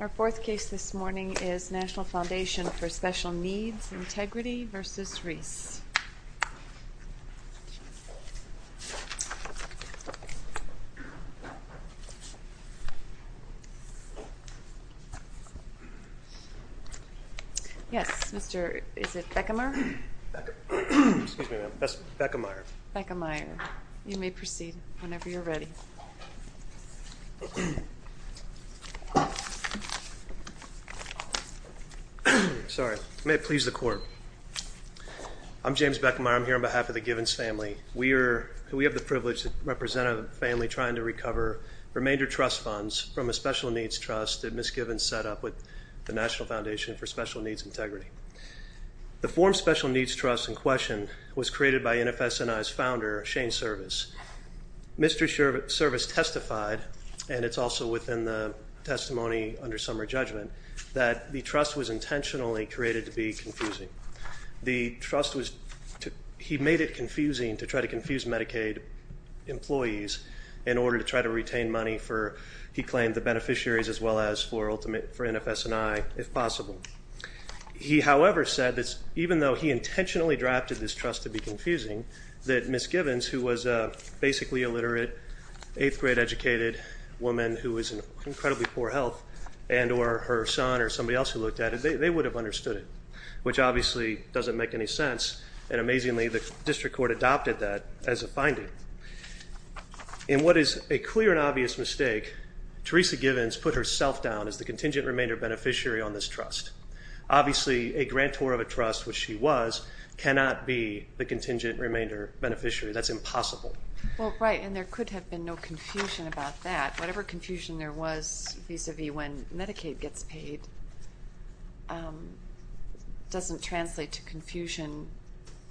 Our fourth case this morning is National Foundation For Special Needs Integrity v. Devon Reese v. Reese Yes, Mr. Beckemeyer, you may proceed whenever you're ready. I'm James Beckemeyer, I'm here on behalf of the Givens family. We have the privilege to represent a family trying to recover remainder trust funds from a special needs trust that Ms. Givens set up with the National Foundation For Special Needs Integrity. The form special needs trust in question was created by NFSNI's founder, Shane Service. Mr. Service testified, and it's also within the testimony under summer judgment, that the trust was intentionally created to be confusing. The trust was, he made it confusing to try to confuse Medicaid employees in order to try to retain money for, he claimed, the beneficiaries as well as for NFSNI, if possible. He however said that even though he intentionally drafted this trust to be confusing, that Ms. Givens, a basically illiterate, 8th grade educated woman who was in incredibly poor health and or her son or somebody else who looked at it, they would have understood it. Which obviously doesn't make any sense, and amazingly the district court adopted that as a finding. In what is a clear and obvious mistake, Teresa Givens put herself down as the contingent remainder beneficiary on this trust. Obviously a grantor of a trust, which she was, cannot be the contingent remainder beneficiary. That's impossible. Well, right, and there could have been no confusion about that. Whatever confusion there was vis-a-vis when Medicaid gets paid doesn't translate to confusion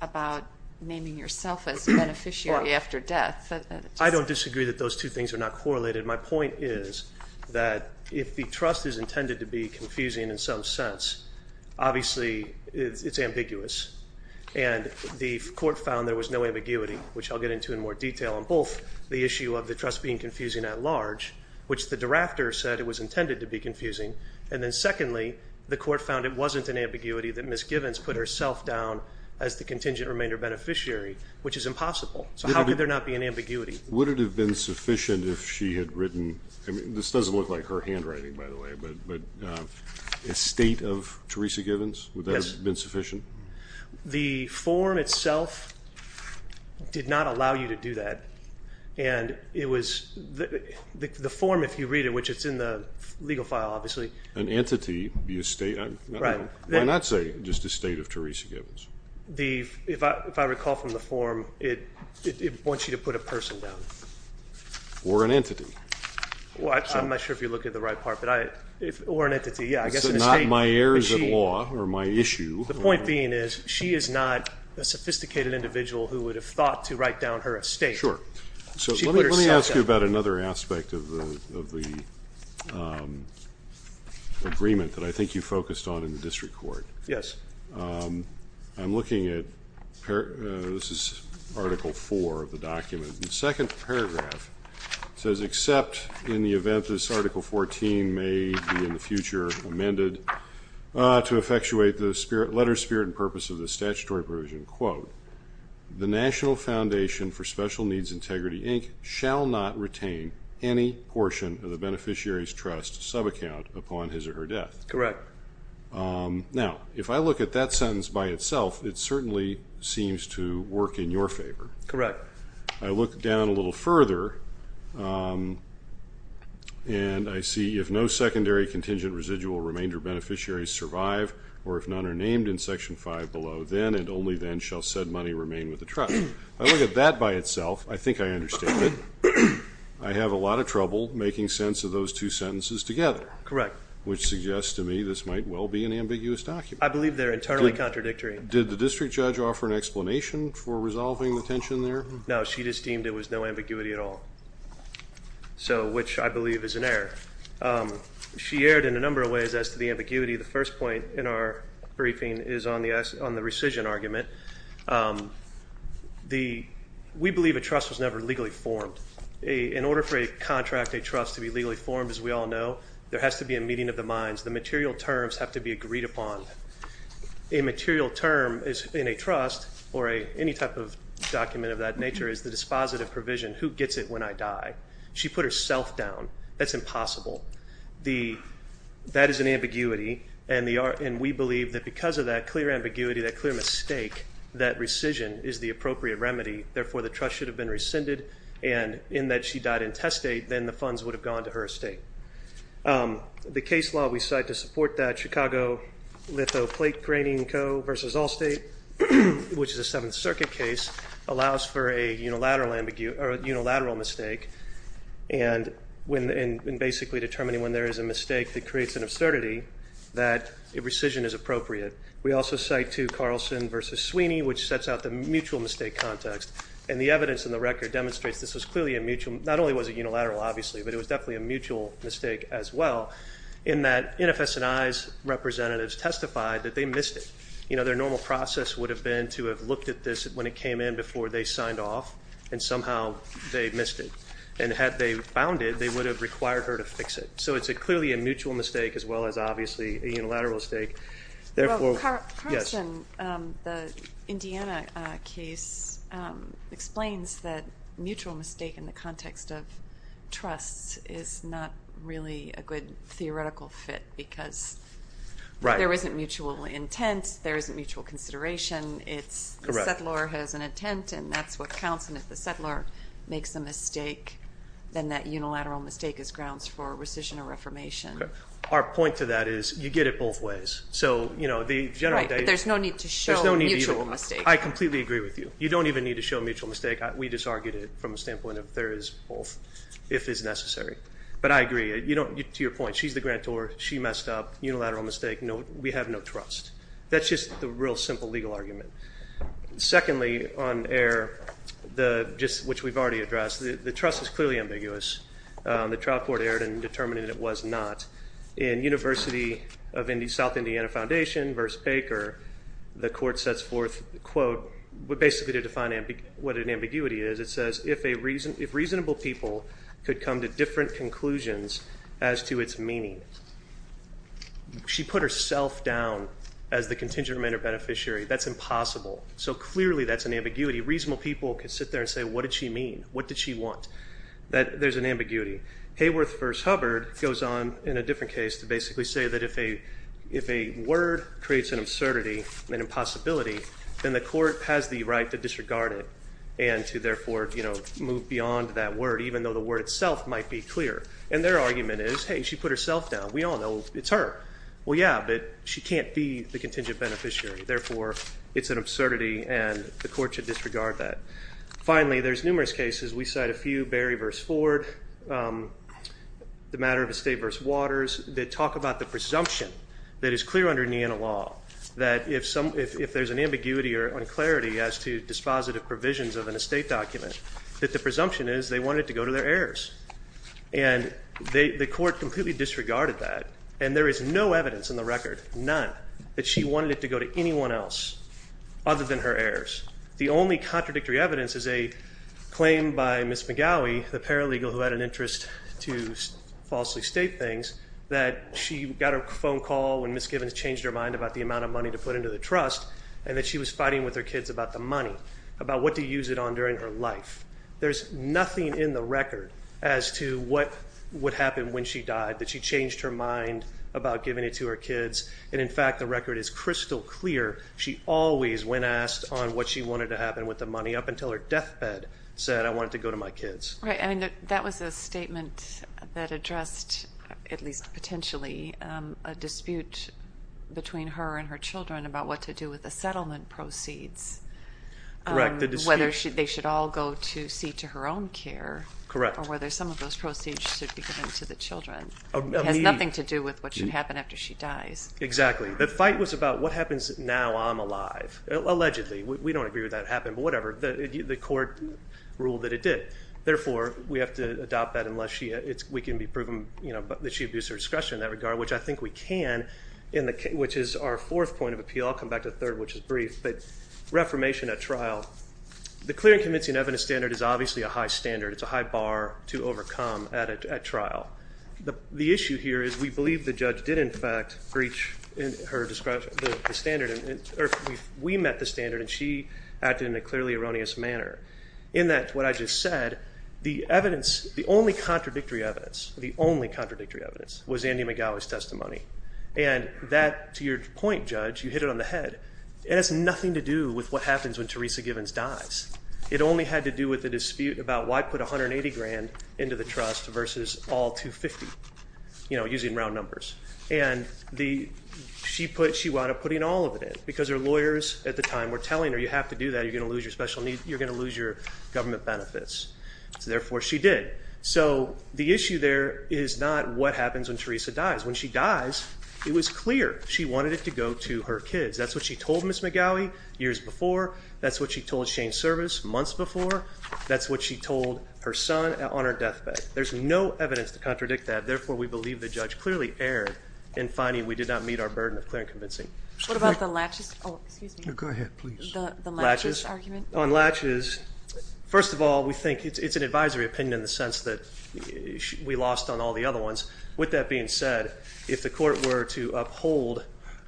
about naming yourself as a beneficiary after death. I don't disagree that those two things are not correlated. My point is that if the trust is intended to be confusing in some sense, obviously it's ambiguous, and the court found there was no ambiguity, which I'll get into in more detail on both the issue of the trust being confusing at large, which the drafter said it was intended to be confusing, and then secondly, the court found it wasn't an ambiguity that Ms. Givens put herself down as the contingent remainder beneficiary, which is impossible. So how could there not be an ambiguity? Would it have been sufficient if she had written, I mean this doesn't look like her handwriting by the way, but estate of Teresa Givens, would that have been sufficient? The form itself did not allow you to do that, and it was, the form if you read it, which it's in the legal file obviously. An entity, the estate, why not say just estate of Teresa Givens? If I recall from the form, it wants you to put a person down. Or an entity. Well I'm not sure if you're looking at the right part, but I, or an entity, yeah I guess an estate. So not my heirs at law, or my issue. The point being is, she is not a sophisticated individual who would have thought to write down her estate. Sure. So let me ask you about another aspect of the agreement that I think you focused on in the district court. Yes. I'm looking at, this is Article 4 of the document, and the second paragraph says, except in the event this Article 14 may be in the future amended to effectuate the letter, spirit and purpose of the statutory provision, quote, the National Foundation for Special Needs Integrity Inc. shall not retain any portion of the beneficiary's trust sub-account upon his or her death. Correct. Now, if I look at that sentence by itself, it certainly seems to work in your favor. Correct. I look down a little further, and I see, if no secondary contingent residual remainder beneficiaries survive, or if none are named in Section 5 below, then and only then shall said money remain with the trust. If I look at that by itself, I think I understand it. I have a lot of trouble making sense of those two sentences together. Correct. Which suggests to me this might well be an ambiguous document. I believe they're internally contradictory. Did the district judge offer an explanation for resolving the tension there? No, she just deemed it was no ambiguity at all, which I believe is an error. She erred in a number of ways as to the ambiguity. The first point in our briefing is on the rescission argument. We believe a trust was never legally formed. In order for a contract, a trust, to be legally formed, as we all know, there has to be a meeting of the minds. The material terms have to be agreed upon. A material term in a trust, or any type of document of that nature, is the dispositive provision, who gets it when I die? She put herself down. That's impossible. That is an ambiguity, and we believe that because of that clear ambiguity, that clear mistake, that rescission is the appropriate remedy. Therefore, the trust should have been rescinded, and in that she died in test state, then the funds would have gone to her estate. The case law we cite to support that, Chicago Litho Plate Graining Co. versus Allstate, which is a Seventh Circuit case, allows for a unilateral mistake, and basically determining when there is a mistake that creates an absurdity, that rescission is appropriate. We also cite to Carlson versus Sweeney, which sets out the mutual mistake context, and the evidence in the record demonstrates this was clearly a mutual, not only was it unilateral, obviously, but it was definitely a mutual mistake as well, in that NFS&I's representatives testified that they missed it. You know, their normal process would have been to have looked at this when it came in before they signed off, and somehow they missed it, and had they found it, they would have required her to fix it. So it's clearly a mutual mistake, as well as, obviously, a unilateral mistake. Therefore, yes. Well, Carlson, the Indiana case, explains that mutual mistake in the context of trust is not really a good theoretical fit, because there isn't mutual intent, there isn't mutual consideration, it's the settler has an intent, and that's what counts, and if the settler makes a mistake, then that unilateral mistake is grounds for rescission or reformation. Our point to that is, you get it both ways. So, you know, the general data... Right, but there's no need to show mutual mistake. I completely agree with you. You don't even need to show mutual mistake. We just argued it from a standpoint of there is both, if it's necessary. But I agree, to your point, she's the grantor, she messed up, unilateral mistake, we have no trust. That's just the real simple legal argument. Secondly, on error, which we've already addressed, the trust is clearly ambiguous. The trial court erred in determining it was not. In University of South Indiana Foundation v. Baker, the court sets forth, quote, basically to define what an ambiguity is, it says, if reasonable people could come to different conclusions as to its meaning. She put herself down as the contingent remander beneficiary, that's impossible. So clearly that's an ambiguity. Reasonable people could sit there and say, what did she mean? What did she want? That there's an ambiguity. Hayworth v. Hubbard goes on in a different case to basically say that if a word creates an absurdity, an impossibility, then the court has the right to disregard it and to therefore move beyond that word, even though the word itself might be clear. And their argument is, hey, she put herself down. We all know it's her. Well, yeah, but she can't be the contingent beneficiary, therefore it's an absurdity and the court should disregard that. Finally, there's numerous cases. We cite a few, Berry v. Ford, the matter of estate v. Waters, that talk about the presumption that is clear under Niena law, that if there's an ambiguity or unclarity as to dispositive provisions of an estate document, that the presumption is they wanted it to go to their heirs. And the court completely disregarded that. And there is no evidence in the record, none, that she wanted it to go to anyone else other than her heirs. The only contradictory evidence is a claim by Ms. McGowey, the paralegal who had an interest to falsely state things, that she got a phone call when Ms. Gibbons changed her mind about the amount of money to put into the trust and that she was fighting with her kids about the money, about what to use it on during her life. There's nothing in the record as to what would happen when she died, that she changed her mind about giving it to her kids. And in fact, the record is crystal clear, she always, when asked on what she wanted to happen with the money, up until her deathbed, said, I want it to go to my kids. That was a statement that addressed, at least potentially, a dispute between her and her children about what to do with the settlement proceeds, whether they should all go to see to her own care, or whether some of those proceeds should be given to the children. It has nothing to do with what should happen after she dies. Exactly. The fight was about what happens now I'm alive, allegedly. We don't agree with that happening, but whatever, the court ruled that it did. Therefore, we have to adopt that unless we can be proven that she abused her discretion in that regard, which I think we can, which is our fourth point of appeal. I'll come back to the third, which is brief, but reformation at trial. The clear and convincing evidence standard is obviously a high standard, it's a high bar to overcome at trial. The issue here is we believe the judge did, in fact, breach the standard, or we met the standard and she acted in a clearly erroneous manner. In that, what I just said, the evidence, the only contradictory evidence, the only contradictory evidence was Andy McGowey's testimony. And that, to your point, Judge, you hit it on the head, it has nothing to do with what happens when Teresa Givens dies. It only had to do with the dispute about why put $180,000 into the trust versus all $250,000, you know, using round numbers. And she wound up putting all of it in because her lawyers at the time were telling her, you have to do that, you're going to lose your special needs, you're going to lose your government benefits. So therefore, she did. So the issue there is not what happens when Teresa dies. When she dies, it was clear she wanted it to go to her kids. That's what she told Ms. McGowey years before. That's what she told Shane Service months before. That's what she told her son on her deathbed. There's no evidence to contradict that. Therefore, we believe the judge clearly erred in finding we did not meet our burden of clear and convincing. What about the Latches? Oh, excuse me. Go ahead, please. The Latches argument? On Latches, first of all, we think it's an advisory opinion in the sense that we lost on all the other ones. With that being said, if the court were to uphold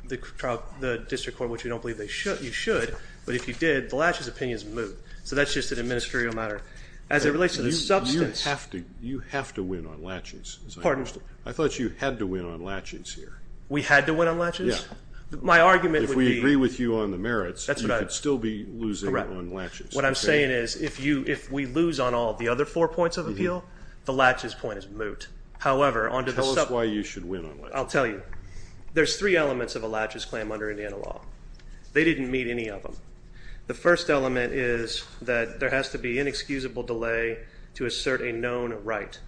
the district court, which we don't believe you should, but if you did, the Latches opinion is moot. So that's just an administrative matter. As it relates to the substance. You have to win on Latches. Pardon? I thought you had to win on Latches here. We had to win on Latches? Yeah. My argument would be. If we agree with you on the merits, you could still be losing on Latches. What I'm saying is, if we lose on all the other four points of appeal, the Latches point is moot. However, on to the substance. Tell us why you should win on Latches. I'll tell you. There's three elements of a Latches claim under Indiana law. They didn't meet any of them. The first element is that there has to be inexcusable delay to assert a known right.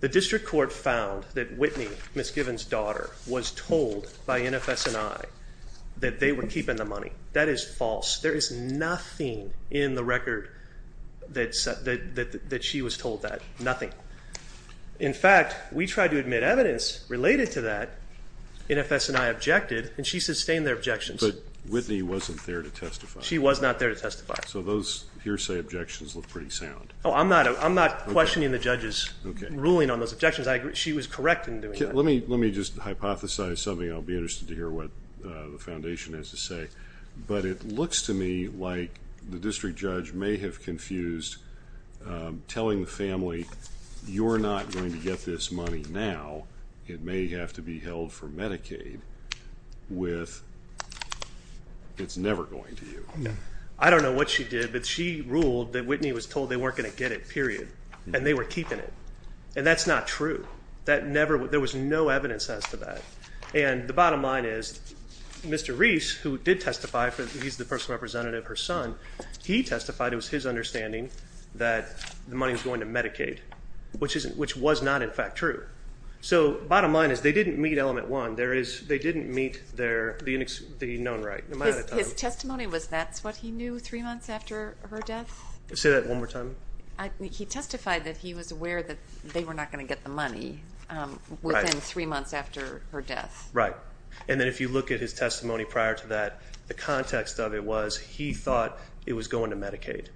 The district court found that Whitney, Ms. Given's daughter, was told by NFS and I that they were keeping the money. That is false. There is nothing in the record that she was told that. Nothing. In fact, we tried to admit evidence related to that, NFS and I objected, and she sustained their objections. But Whitney wasn't there to testify. She was not there to testify. So those hearsay objections look pretty sound. I'm not questioning the judge's ruling on those objections. She was correct in doing that. Let me just hypothesize something. I'll be interested to hear what the foundation has to say. But it looks to me like the district judge may have confused telling the family, you're not going to get this money now, it may have to be held for Medicaid, with it's never going to you. I don't know what she did, but she ruled that Whitney was told they weren't going to get it, period. And they were keeping it. And that's not true. There was no evidence as to that. And the bottom line is, Mr. Reese, who did testify, he's the personal representative of her son, he testified it was his understanding that the money was going to Medicaid, which was not in fact true. So bottom line is, they didn't meet element one. They didn't meet the known right. Am I out of time? His testimony was that's what he knew three months after her death? Say that one more time. He testified that he was aware that they were not going to get the money within three months after her death. Right. And then if you look at his testimony prior to that, the context of it was he thought it was going to Medicaid.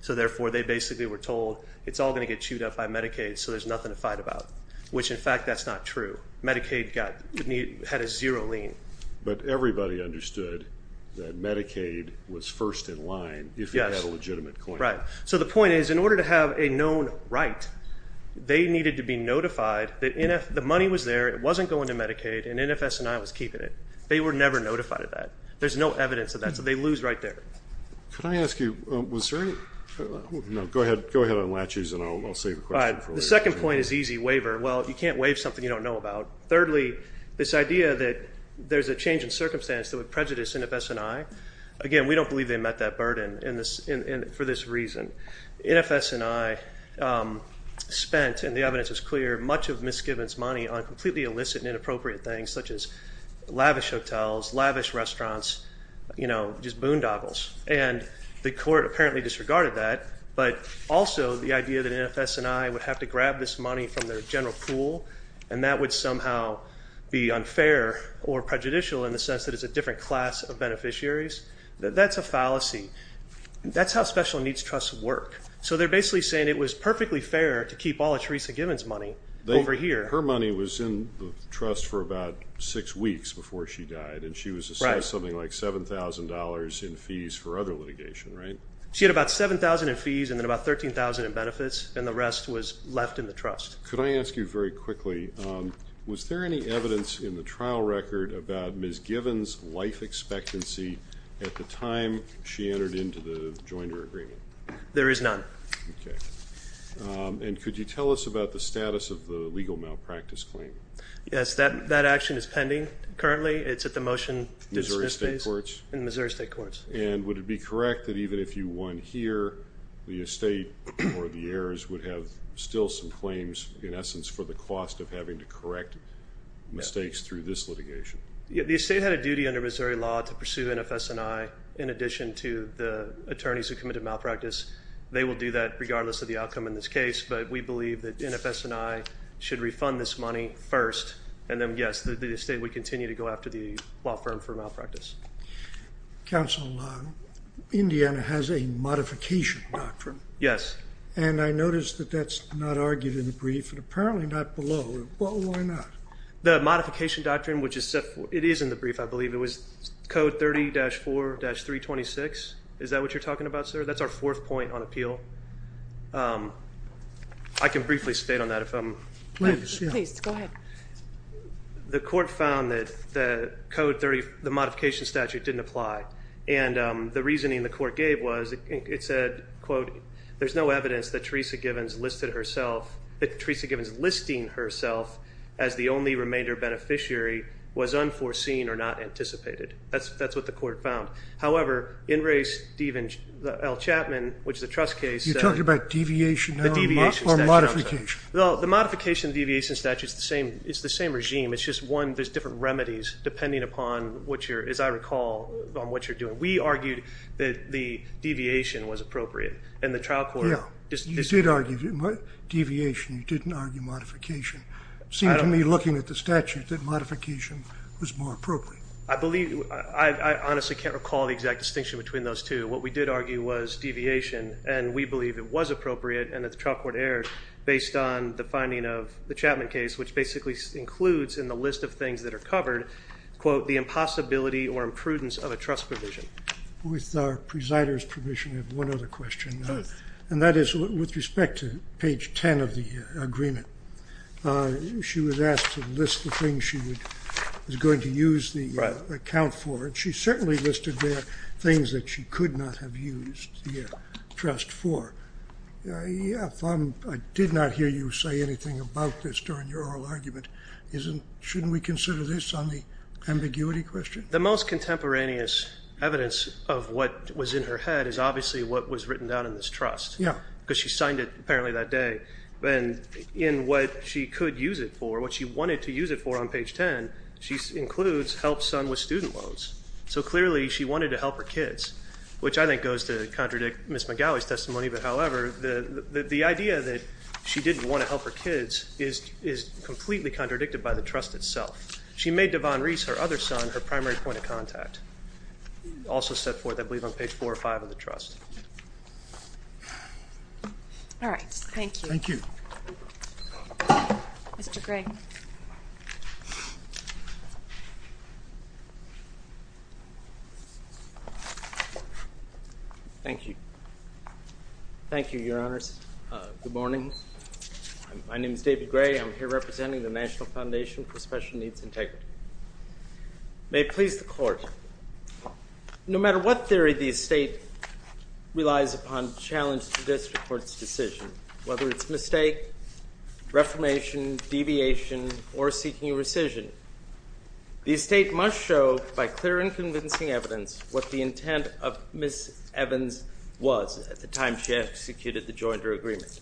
So therefore, they basically were told it's all going to get chewed up by Medicaid, so there's nothing to fight about, which in fact that's not true. Medicaid had a zero lien. But everybody understood that Medicaid was first in line if it had a legitimate claim. Right. So the point is, in order to have a known right, they needed to be notified that the money was there, it wasn't going to Medicaid, and NFS&I was keeping it. They were never notified of that. There's no evidence of that. So they lose right there. Could I ask you, was there any, no, go ahead, go ahead on latches and I'll save the question for later. The second point is easy, waiver. Well, you can't waive something you don't know about. Thirdly, this idea that there's a change in circumstance that would prejudice NFS&I, again, we don't believe they met that burden for this reason. NFS&I spent, and the evidence is clear, much of Miss Gibbons' money on completely illicit and inappropriate things such as lavish hotels, lavish restaurants, you know, just boondoggles. And the court apparently disregarded that, but also the idea that NFS&I would have to grab this money from their general pool and that would somehow be unfair or prejudicial in the sense that it's a different class of beneficiaries, that's a fallacy. That's how special needs trusts work. So they're basically saying it was perfectly fair to keep all of Theresa Gibbons' money over here. Her money was in the trust for about six weeks before she died and she was assessed something like $7,000 in fees for other litigation, right? She had about $7,000 in fees and then about $13,000 in benefits and the rest was left in the trust. Could I ask you very quickly, was there any evidence in the trial record about Miss Gibbons' life expectancy at the time she entered into the joiner agreement? There is none. Okay. And could you tell us about the status of the legal malpractice claim? Yes, that action is pending currently. It's at the motion dismiss phase. Missouri State Courts? In Missouri State Courts. And would it be correct that even if you won here, the estate or the heirs would have still some claims in essence for the cost of having to correct mistakes through this litigation? The estate had a duty under Missouri law to pursue NFS&I in addition to the attorneys who committed malpractice. They will do that regardless of the outcome in this case, but we believe that NFS&I should refund this money first and then, yes, the estate would continue to go after the law firm for malpractice. Counsel, Indiana has a modification doctrine. Yes. And I noticed that that's not argued in the brief and apparently not below. Why not? The modification doctrine, which is set for – it is in the brief, I believe. It was Code 30-4-326. Is that what you're talking about, sir? That's our fourth point on appeal. I can briefly state on that if I'm – Please. Please. Go ahead. The court found that Code 30, the modification statute, didn't apply. And the reasoning the court gave was it said, quote, there's no evidence that Teresa Givens listing herself as the only remainder beneficiary was unforeseen or not anticipated. That's what the court found. However, in race, El Chapman, which is a trust case – You're talking about deviation or modification. Well, the modification deviation statute is the same regime. It's just, one, there's different remedies depending upon what you're – as I recall, on what you're doing. We argued that the deviation was appropriate and the trial court – You did argue deviation. You didn't argue modification. It seemed to me, looking at the statute, that modification was more appropriate. I believe – I honestly can't recall the exact distinction between those two. What we did argue was deviation, and we believe it was appropriate and that the trial court erred based on the finding of the Chapman case, which basically includes in the list of things that are covered, quote, the impossibility or imprudence of a trust provision. With our presider's permission, I have one other question. Please. And that is with respect to page 10 of the agreement. She was asked to list the things she was going to use the account for, and she certainly listed there things that she could not have used the trust for. If I did not hear you say anything about this during your oral argument, shouldn't we consider this on the ambiguity question? The most contemporaneous evidence of what was in her head is obviously what was written down in this trust because she signed it apparently that day. In what she could use it for, what she wanted to use it for on page 10, she includes help son with student loans. So clearly she wanted to help her kids, which I think goes to contradict Ms. McGowey's testimony. However, the idea that she didn't want to help her kids is completely contradicted by the trust itself. She made Devon Reese, her other son, her primary point of contact. Also set forth, I believe, on page 4 or 5 of the trust. All right. Thank you. Thank you. Mr. Gray. Thank you. Thank you, Your Honors. Good morning. My name is David Gray. I'm here representing the National Foundation for Special Needs Integrity. May it please the Court. No matter what theory the estate relies upon to challenge the district court's decision, whether it's mistake, reformation, deviation, or seeking rescission, the estate must show by clear and convincing evidence what the intent of Ms. Evans was at the time she executed the joinder agreement.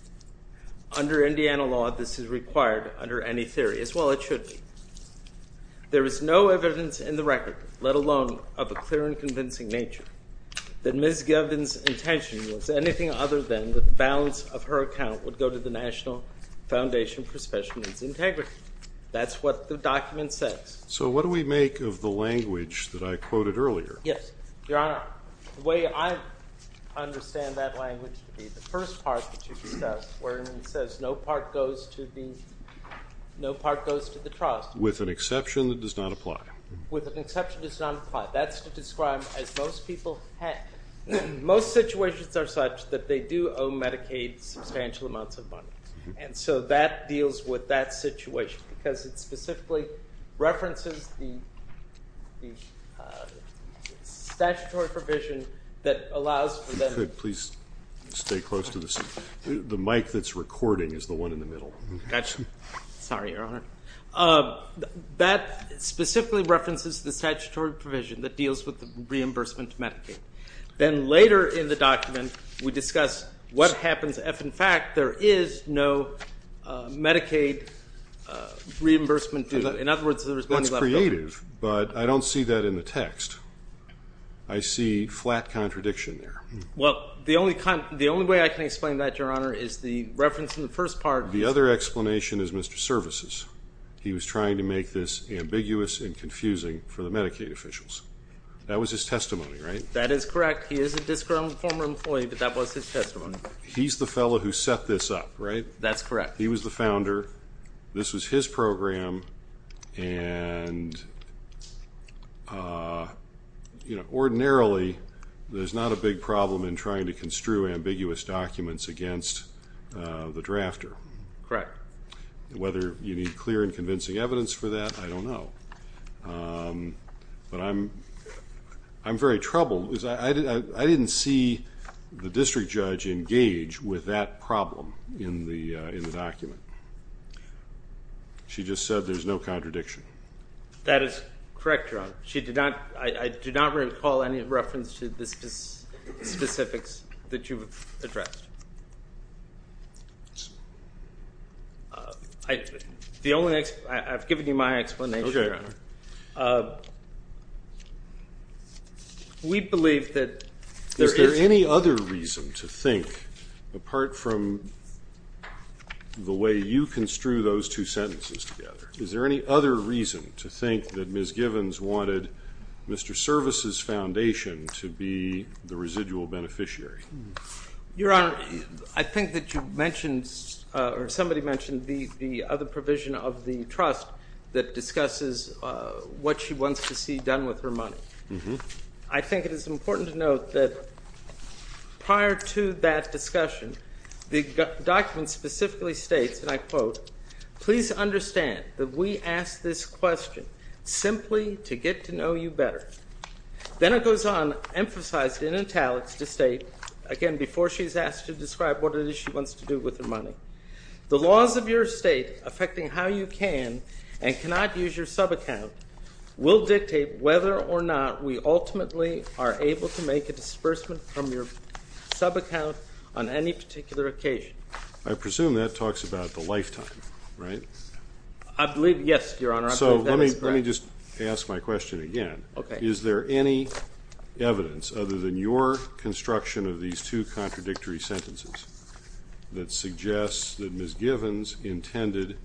Under Indiana law, this is required under any theory, as well it should be. There is no evidence in the record, let alone of a clear and convincing nature, that Ms. Devon's intention was anything other than that the balance of her account would go to the National Foundation for Special Needs Integrity. That's what the document says. So what do we make of the language that I quoted earlier? Yes. Your Honor, the way I understand that language to be the first part that you can start where it says no part goes to the trust. With an exception that does not apply. With an exception that does not apply. That's to describe, as most people have, most situations are such that they do owe Medicaid substantial amounts of money. And so that deals with that situation because it specifically references the statutory provision that allows for that. If you could please stay close to the mic that's recording is the one in the middle. Gotcha. Sorry, Your Honor. That specifically references the statutory provision that deals with the reimbursement to Medicaid. Then later in the document we discuss what happens if, in fact, there is no Medicaid reimbursement due. In other words, there's money left over. That's creative, but I don't see that in the text. I see flat contradiction there. Well, the only way I can explain that, Your Honor, is the reference in the first part. The other explanation is Mr. Services. He was trying to make this ambiguous and confusing for the Medicaid officials. That was his testimony, right? That is correct. He is a disgruntled former employee, but that was his testimony. He's the fellow who set this up, right? That's correct. He was the founder. This was his program. Ordinarily, there's not a big problem in trying to construe ambiguous documents against the drafter. Correct. Whether you need clear and convincing evidence for that, I don't know. But I'm very troubled. I didn't see the district judge engage with that problem in the document. She just said there's no contradiction. That is correct, Your Honor. I do not recall any reference to the specifics that you've addressed. I've given you my explanation, Your Honor. Okay. We believe that there is any other reason to think, apart from the way you construe those two sentences together, is there any other reason to think that Ms. Givens wanted Mr. Services' foundation to be the residual beneficiary? Your Honor, I think that you mentioned or somebody mentioned the other provision of the trust that discusses what she wants to see done with her money. I think it is important to note that prior to that discussion, the document specifically states, and I quote, Please understand that we ask this question simply to get to know you better. Then it goes on, emphasized in italics, to state, again, before she's asked to describe what it is she wants to do with her money, the laws of your state affecting how you can and cannot use your subaccount will dictate whether or not we ultimately are able to make a disbursement from your subaccount on any particular occasion. I presume that talks about the lifetime, right? I believe, yes, Your Honor. So let me just ask my question again. Okay. Is there any evidence, other than your construction of these two contradictory sentences, that suggests that Ms. Givens intended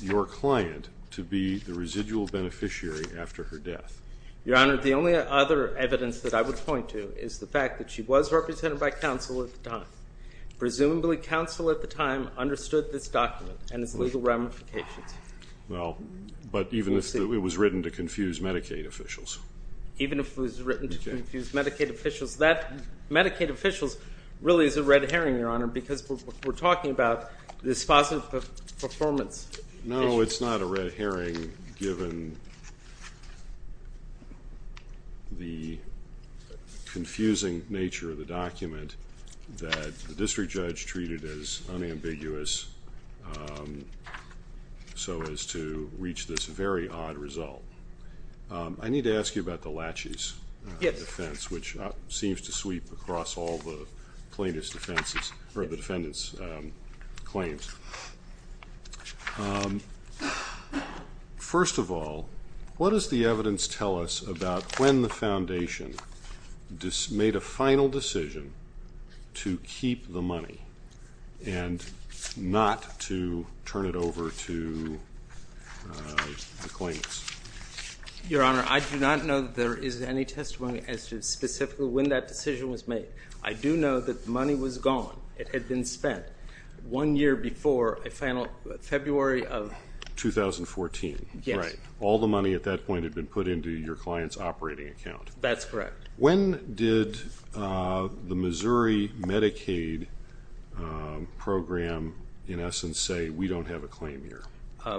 your client to be the residual beneficiary after her death? Your Honor, the only other evidence that I would point to is the fact that she was represented by counsel at the time. Presumably counsel at the time understood this document and its legal ramifications. Well, but even if it was written to confuse Medicaid officials. Even if it was written to confuse Medicaid officials. Medicaid officials really is a red herring, Your Honor, because we're talking about this positive performance. No, it's not a red herring given the confusing nature of the document that the district judge treated as unambiguous so as to reach this very odd result. I need to ask you about the laches defense, which seems to sweep across all the plaintiff's defenses, or the defendant's claims. First of all, what does the evidence tell us about when the foundation made a final decision to keep the money and not to turn it over to the claimants? Your Honor, I do not know that there is any testimony as to specifically when that decision was made. I do know that the money was gone. It had been spent one year before February of 2014. Yes. All the money at that point had been put into your client's operating account. That's correct. When did the Missouri Medicaid program, in essence, say we don't have a claim here?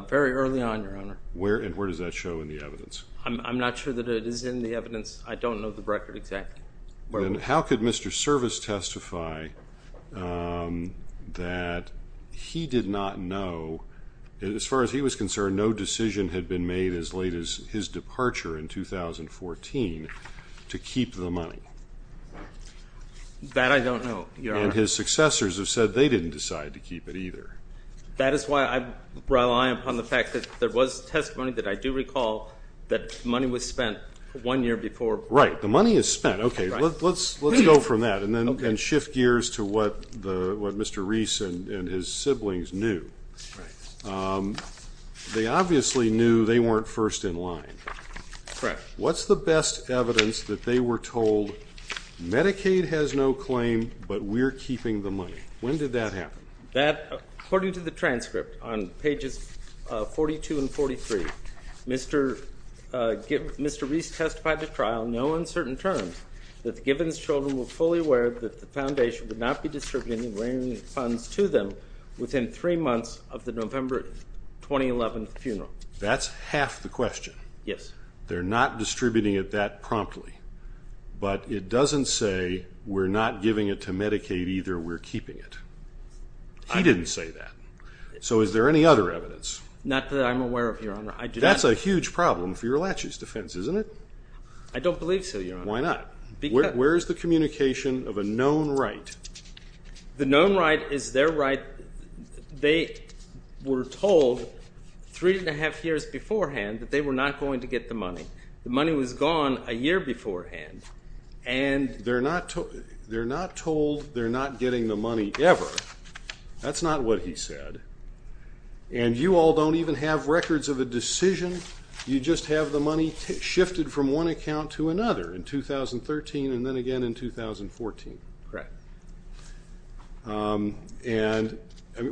Very early on, Your Honor. And where does that show in the evidence? I'm not sure that it is in the evidence. I don't know the record exactly. Then how could Mr. Service testify that he did not know, as far as he was concerned, no decision had been made as late as his departure in 2014 to keep the money? That I don't know, Your Honor. And his successors have said they didn't decide to keep it either. That is why I rely upon the fact that there was testimony that I do recall that money was spent one year before. Right. The money is spent. Okay. Let's go from that and then shift gears to what Mr. Reese and his siblings knew. They obviously knew they weren't first in line. Correct. What's the best evidence that they were told Medicaid has no claim, but we're keeping the money? When did that happen? According to the transcript on Pages 42 and 43, Mr. Reese testified at trial, no uncertain terms, that the Gibbons children were fully aware that the Foundation would not be distributing any grant funds to them within three months of the November 2011 funeral. That's half the question. Yes. They're not distributing it that promptly. But it doesn't say we're not giving it to Medicaid either, we're keeping it. He didn't say that. So is there any other evidence? Not that I'm aware of, Your Honor. That's a huge problem for your laches defense, isn't it? I don't believe so, Your Honor. Why not? Where is the communication of a known right? The known right is their right. They were told three and a half years beforehand that they were not going to get the money. The money was gone a year beforehand. They're not told they're not getting the money ever. That's not what he said. And you all don't even have records of a decision. You just have the money shifted from one account to another in 2013 and then again in 2014. Correct. And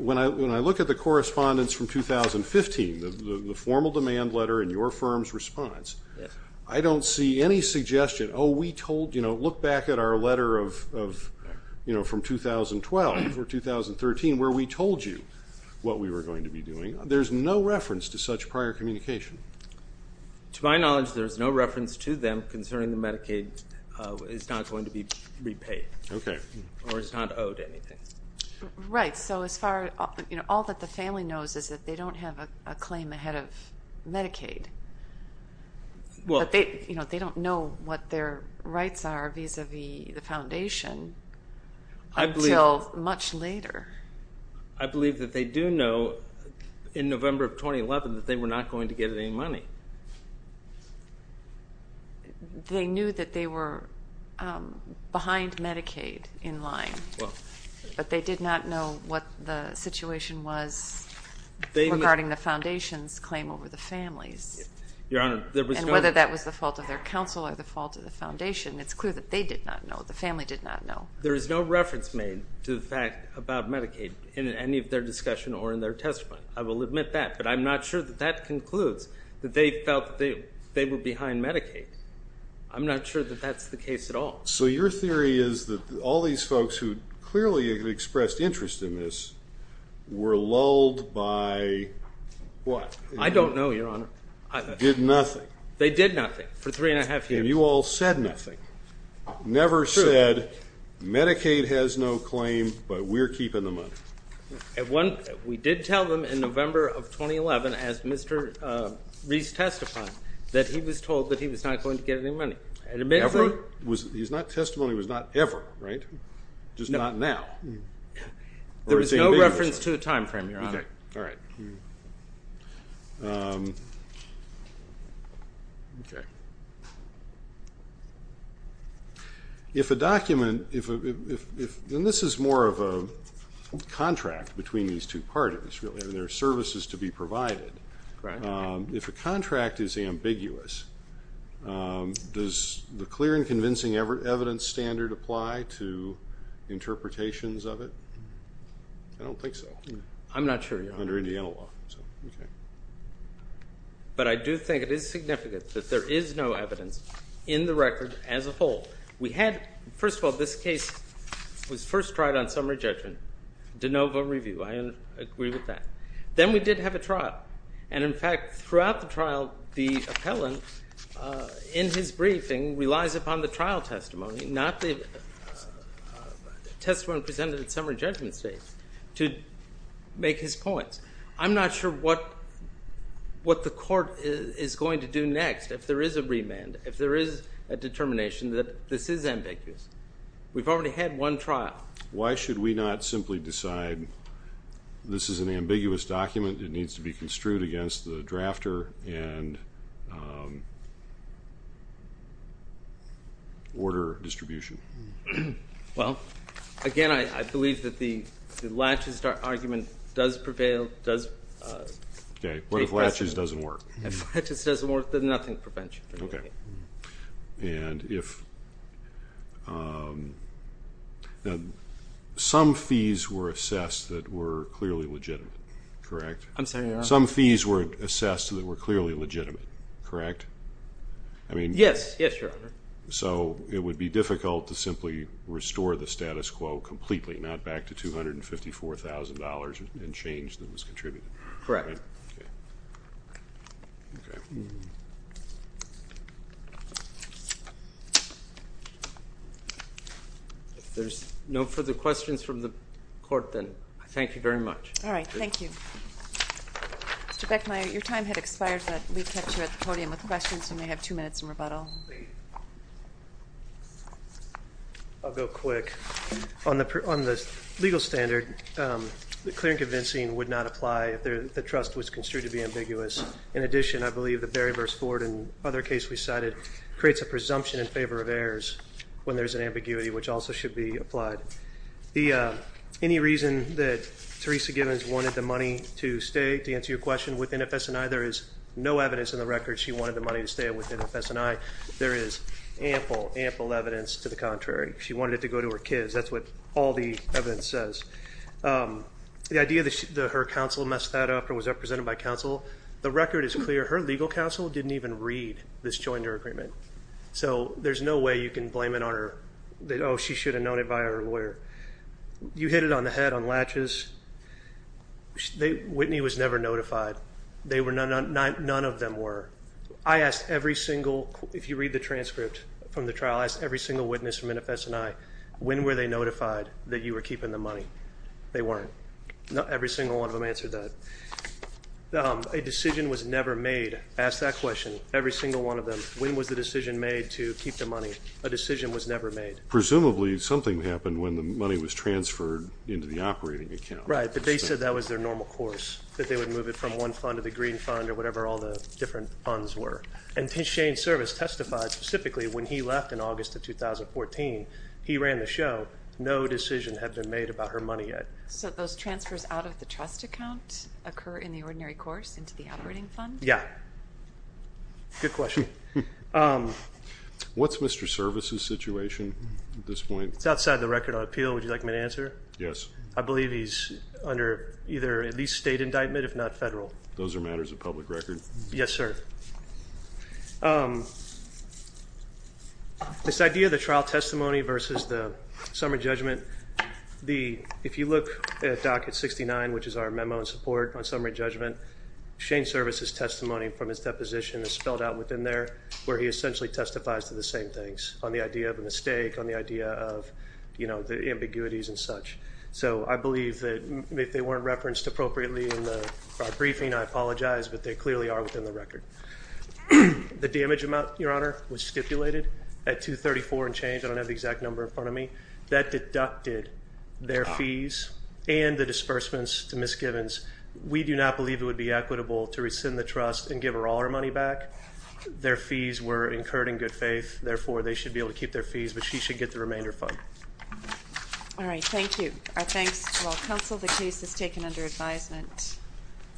when I look at the correspondence from 2015, the formal demand letter and your firm's response, I don't see any suggestion, oh, we told, you know, look back at our letter of, you know, from 2012 or 2013 where we told you what we were going to be doing. There's no reference to such prior communication. To my knowledge, there's no reference to them concerning the Medicaid. It's not going to be repaid. Okay. Or it's not owed anything. Right. So as far as, you know, all that the family knows is that they don't have a claim ahead of Medicaid. But they don't know what their rights are vis-à-vis the foundation until much later. I believe that they do know in November of 2011 that they were not going to get any money. They knew that they were behind Medicaid in line, but they did not know what the situation was regarding the foundation's claim over the family's. Your Honor, there was no. And whether that was the fault of their counsel or the fault of the foundation, it's clear that they did not know, the family did not know. There is no reference made to the fact about Medicaid in any of their discussion or in their testimony. I will admit that. But I'm not sure that that concludes that they felt that they were behind Medicaid. I'm not sure that that's the case at all. So your theory is that all these folks who clearly expressed interest in this were lulled by what? I don't know, Your Honor. Did nothing. They did nothing for three and a half years. And you all said nothing. Never said Medicaid has no claim, but we're keeping the money. We did tell them in November of 2011, as Mr. Reese testified, that he was told that he was not going to get any money. He's not testimony was not ever, right? Just not now. There was no reference to a time frame, Your Honor. All right. Okay. If a document, and this is more of a contract between these two parties, really, and there are services to be provided. If a contract is ambiguous, does the clear and convincing evidence standard apply to interpretations of it? I don't think so. I'm not sure, Your Honor. Under Indiana law. But I do think it is significant that there is no evidence in the record as a whole. We had, first of all, this case was first tried on summary judgment, de novo review. I agree with that. Then we did have a trial. And, in fact, throughout the trial, the appellant, in his briefing, relies upon the trial testimony, not the testimony presented at summary judgment stage, to make his points. I'm not sure what the court is going to do next, if there is a remand, if there is a determination that this is ambiguous. We've already had one trial. Why should we not simply decide this is an ambiguous document, it needs to be construed against the drafter and order distribution? Well, again, I believe that the latches argument does prevail. Okay. What if latches doesn't work? If latches doesn't work, then nothing prevents you. Okay. And if some fees were assessed that were clearly legitimate, correct? I'm sorry? Some fees were assessed that were clearly legitimate, correct? Yes, yes, Your Honor. So it would be difficult to simply restore the status quo completely, not back to $254,000 and change that was contributed. Correct. Okay. If there's no further questions from the court, then thank you very much. All right. Thank you. Mr. Beckmeyer, your time had expired, but we kept you at the podium with questions. You may have two minutes in rebuttal. Thank you. I'll go quick. On the legal standard, the clear and convincing would not apply if the trust was construed to be ambiguous. In addition, I believe that Barry v. Ford and other cases we cited creates a presumption in favor of errors when there's an ambiguity, which also should be applied. Any reason that Teresa Givens wanted the money to stay, to answer your question, with NFS&I, there is no evidence in the record she wanted the money to stay with NFS&I. There is ample, ample evidence to the contrary. She wanted it to go to her kids. That's what all the evidence says. The idea that her counsel messed that up and was represented by counsel, the record is clear. Her legal counsel didn't even read this jointer agreement. So there's no way you can blame it on her. Oh, she should have known it by her lawyer. You hit it on the head on latches. Whitney was never notified. None of them were. I asked every single, if you read the transcript from the trial, I asked every single witness from NFS&I, when were they notified that you were keeping the money? They weren't. Every single one of them answered that. A decision was never made. Ask that question. Every single one of them, when was the decision made to keep the money? A decision was never made. Presumably something happened when the money was transferred into the operating account. Right, but they said that was their normal course, that they would move it from one fund to the green fund or whatever all the different funds were. And Shane's service testified specifically when he left in August of 2014. He ran the show. No decision had been made about her money yet. So those transfers out of the trust account occur in the ordinary course, into the operating fund? Yeah. Good question. What's Mr. Service's situation at this point? It's outside the record of appeal. Would you like me to answer? Yes. I believe he's under either at least state indictment, if not federal. Those are matters of public record. Yes, sir. This idea of the trial testimony versus the summary judgment, if you look at Docket 69, which is our memo in support on summary judgment, Shane's service's testimony from his deposition is spelled out within there, where he essentially testifies to the same things on the idea of a mistake, on the idea of, you know, the ambiguities and such. So I believe that if they weren't referenced appropriately in our briefing, I apologize, but they clearly are within the record. The damage amount, Your Honor, was stipulated at $234 and change. I don't have the exact number in front of me. That deducted their fees and the disbursements to Ms. Givens. We do not believe it would be equitable to rescind the trust and give her all her money back. Their fees were incurred in good faith. Therefore, they should be able to keep their fees, but she should get the remainder fund. All right. Thank you. Our thanks to all counsel. The case is taken under advisement.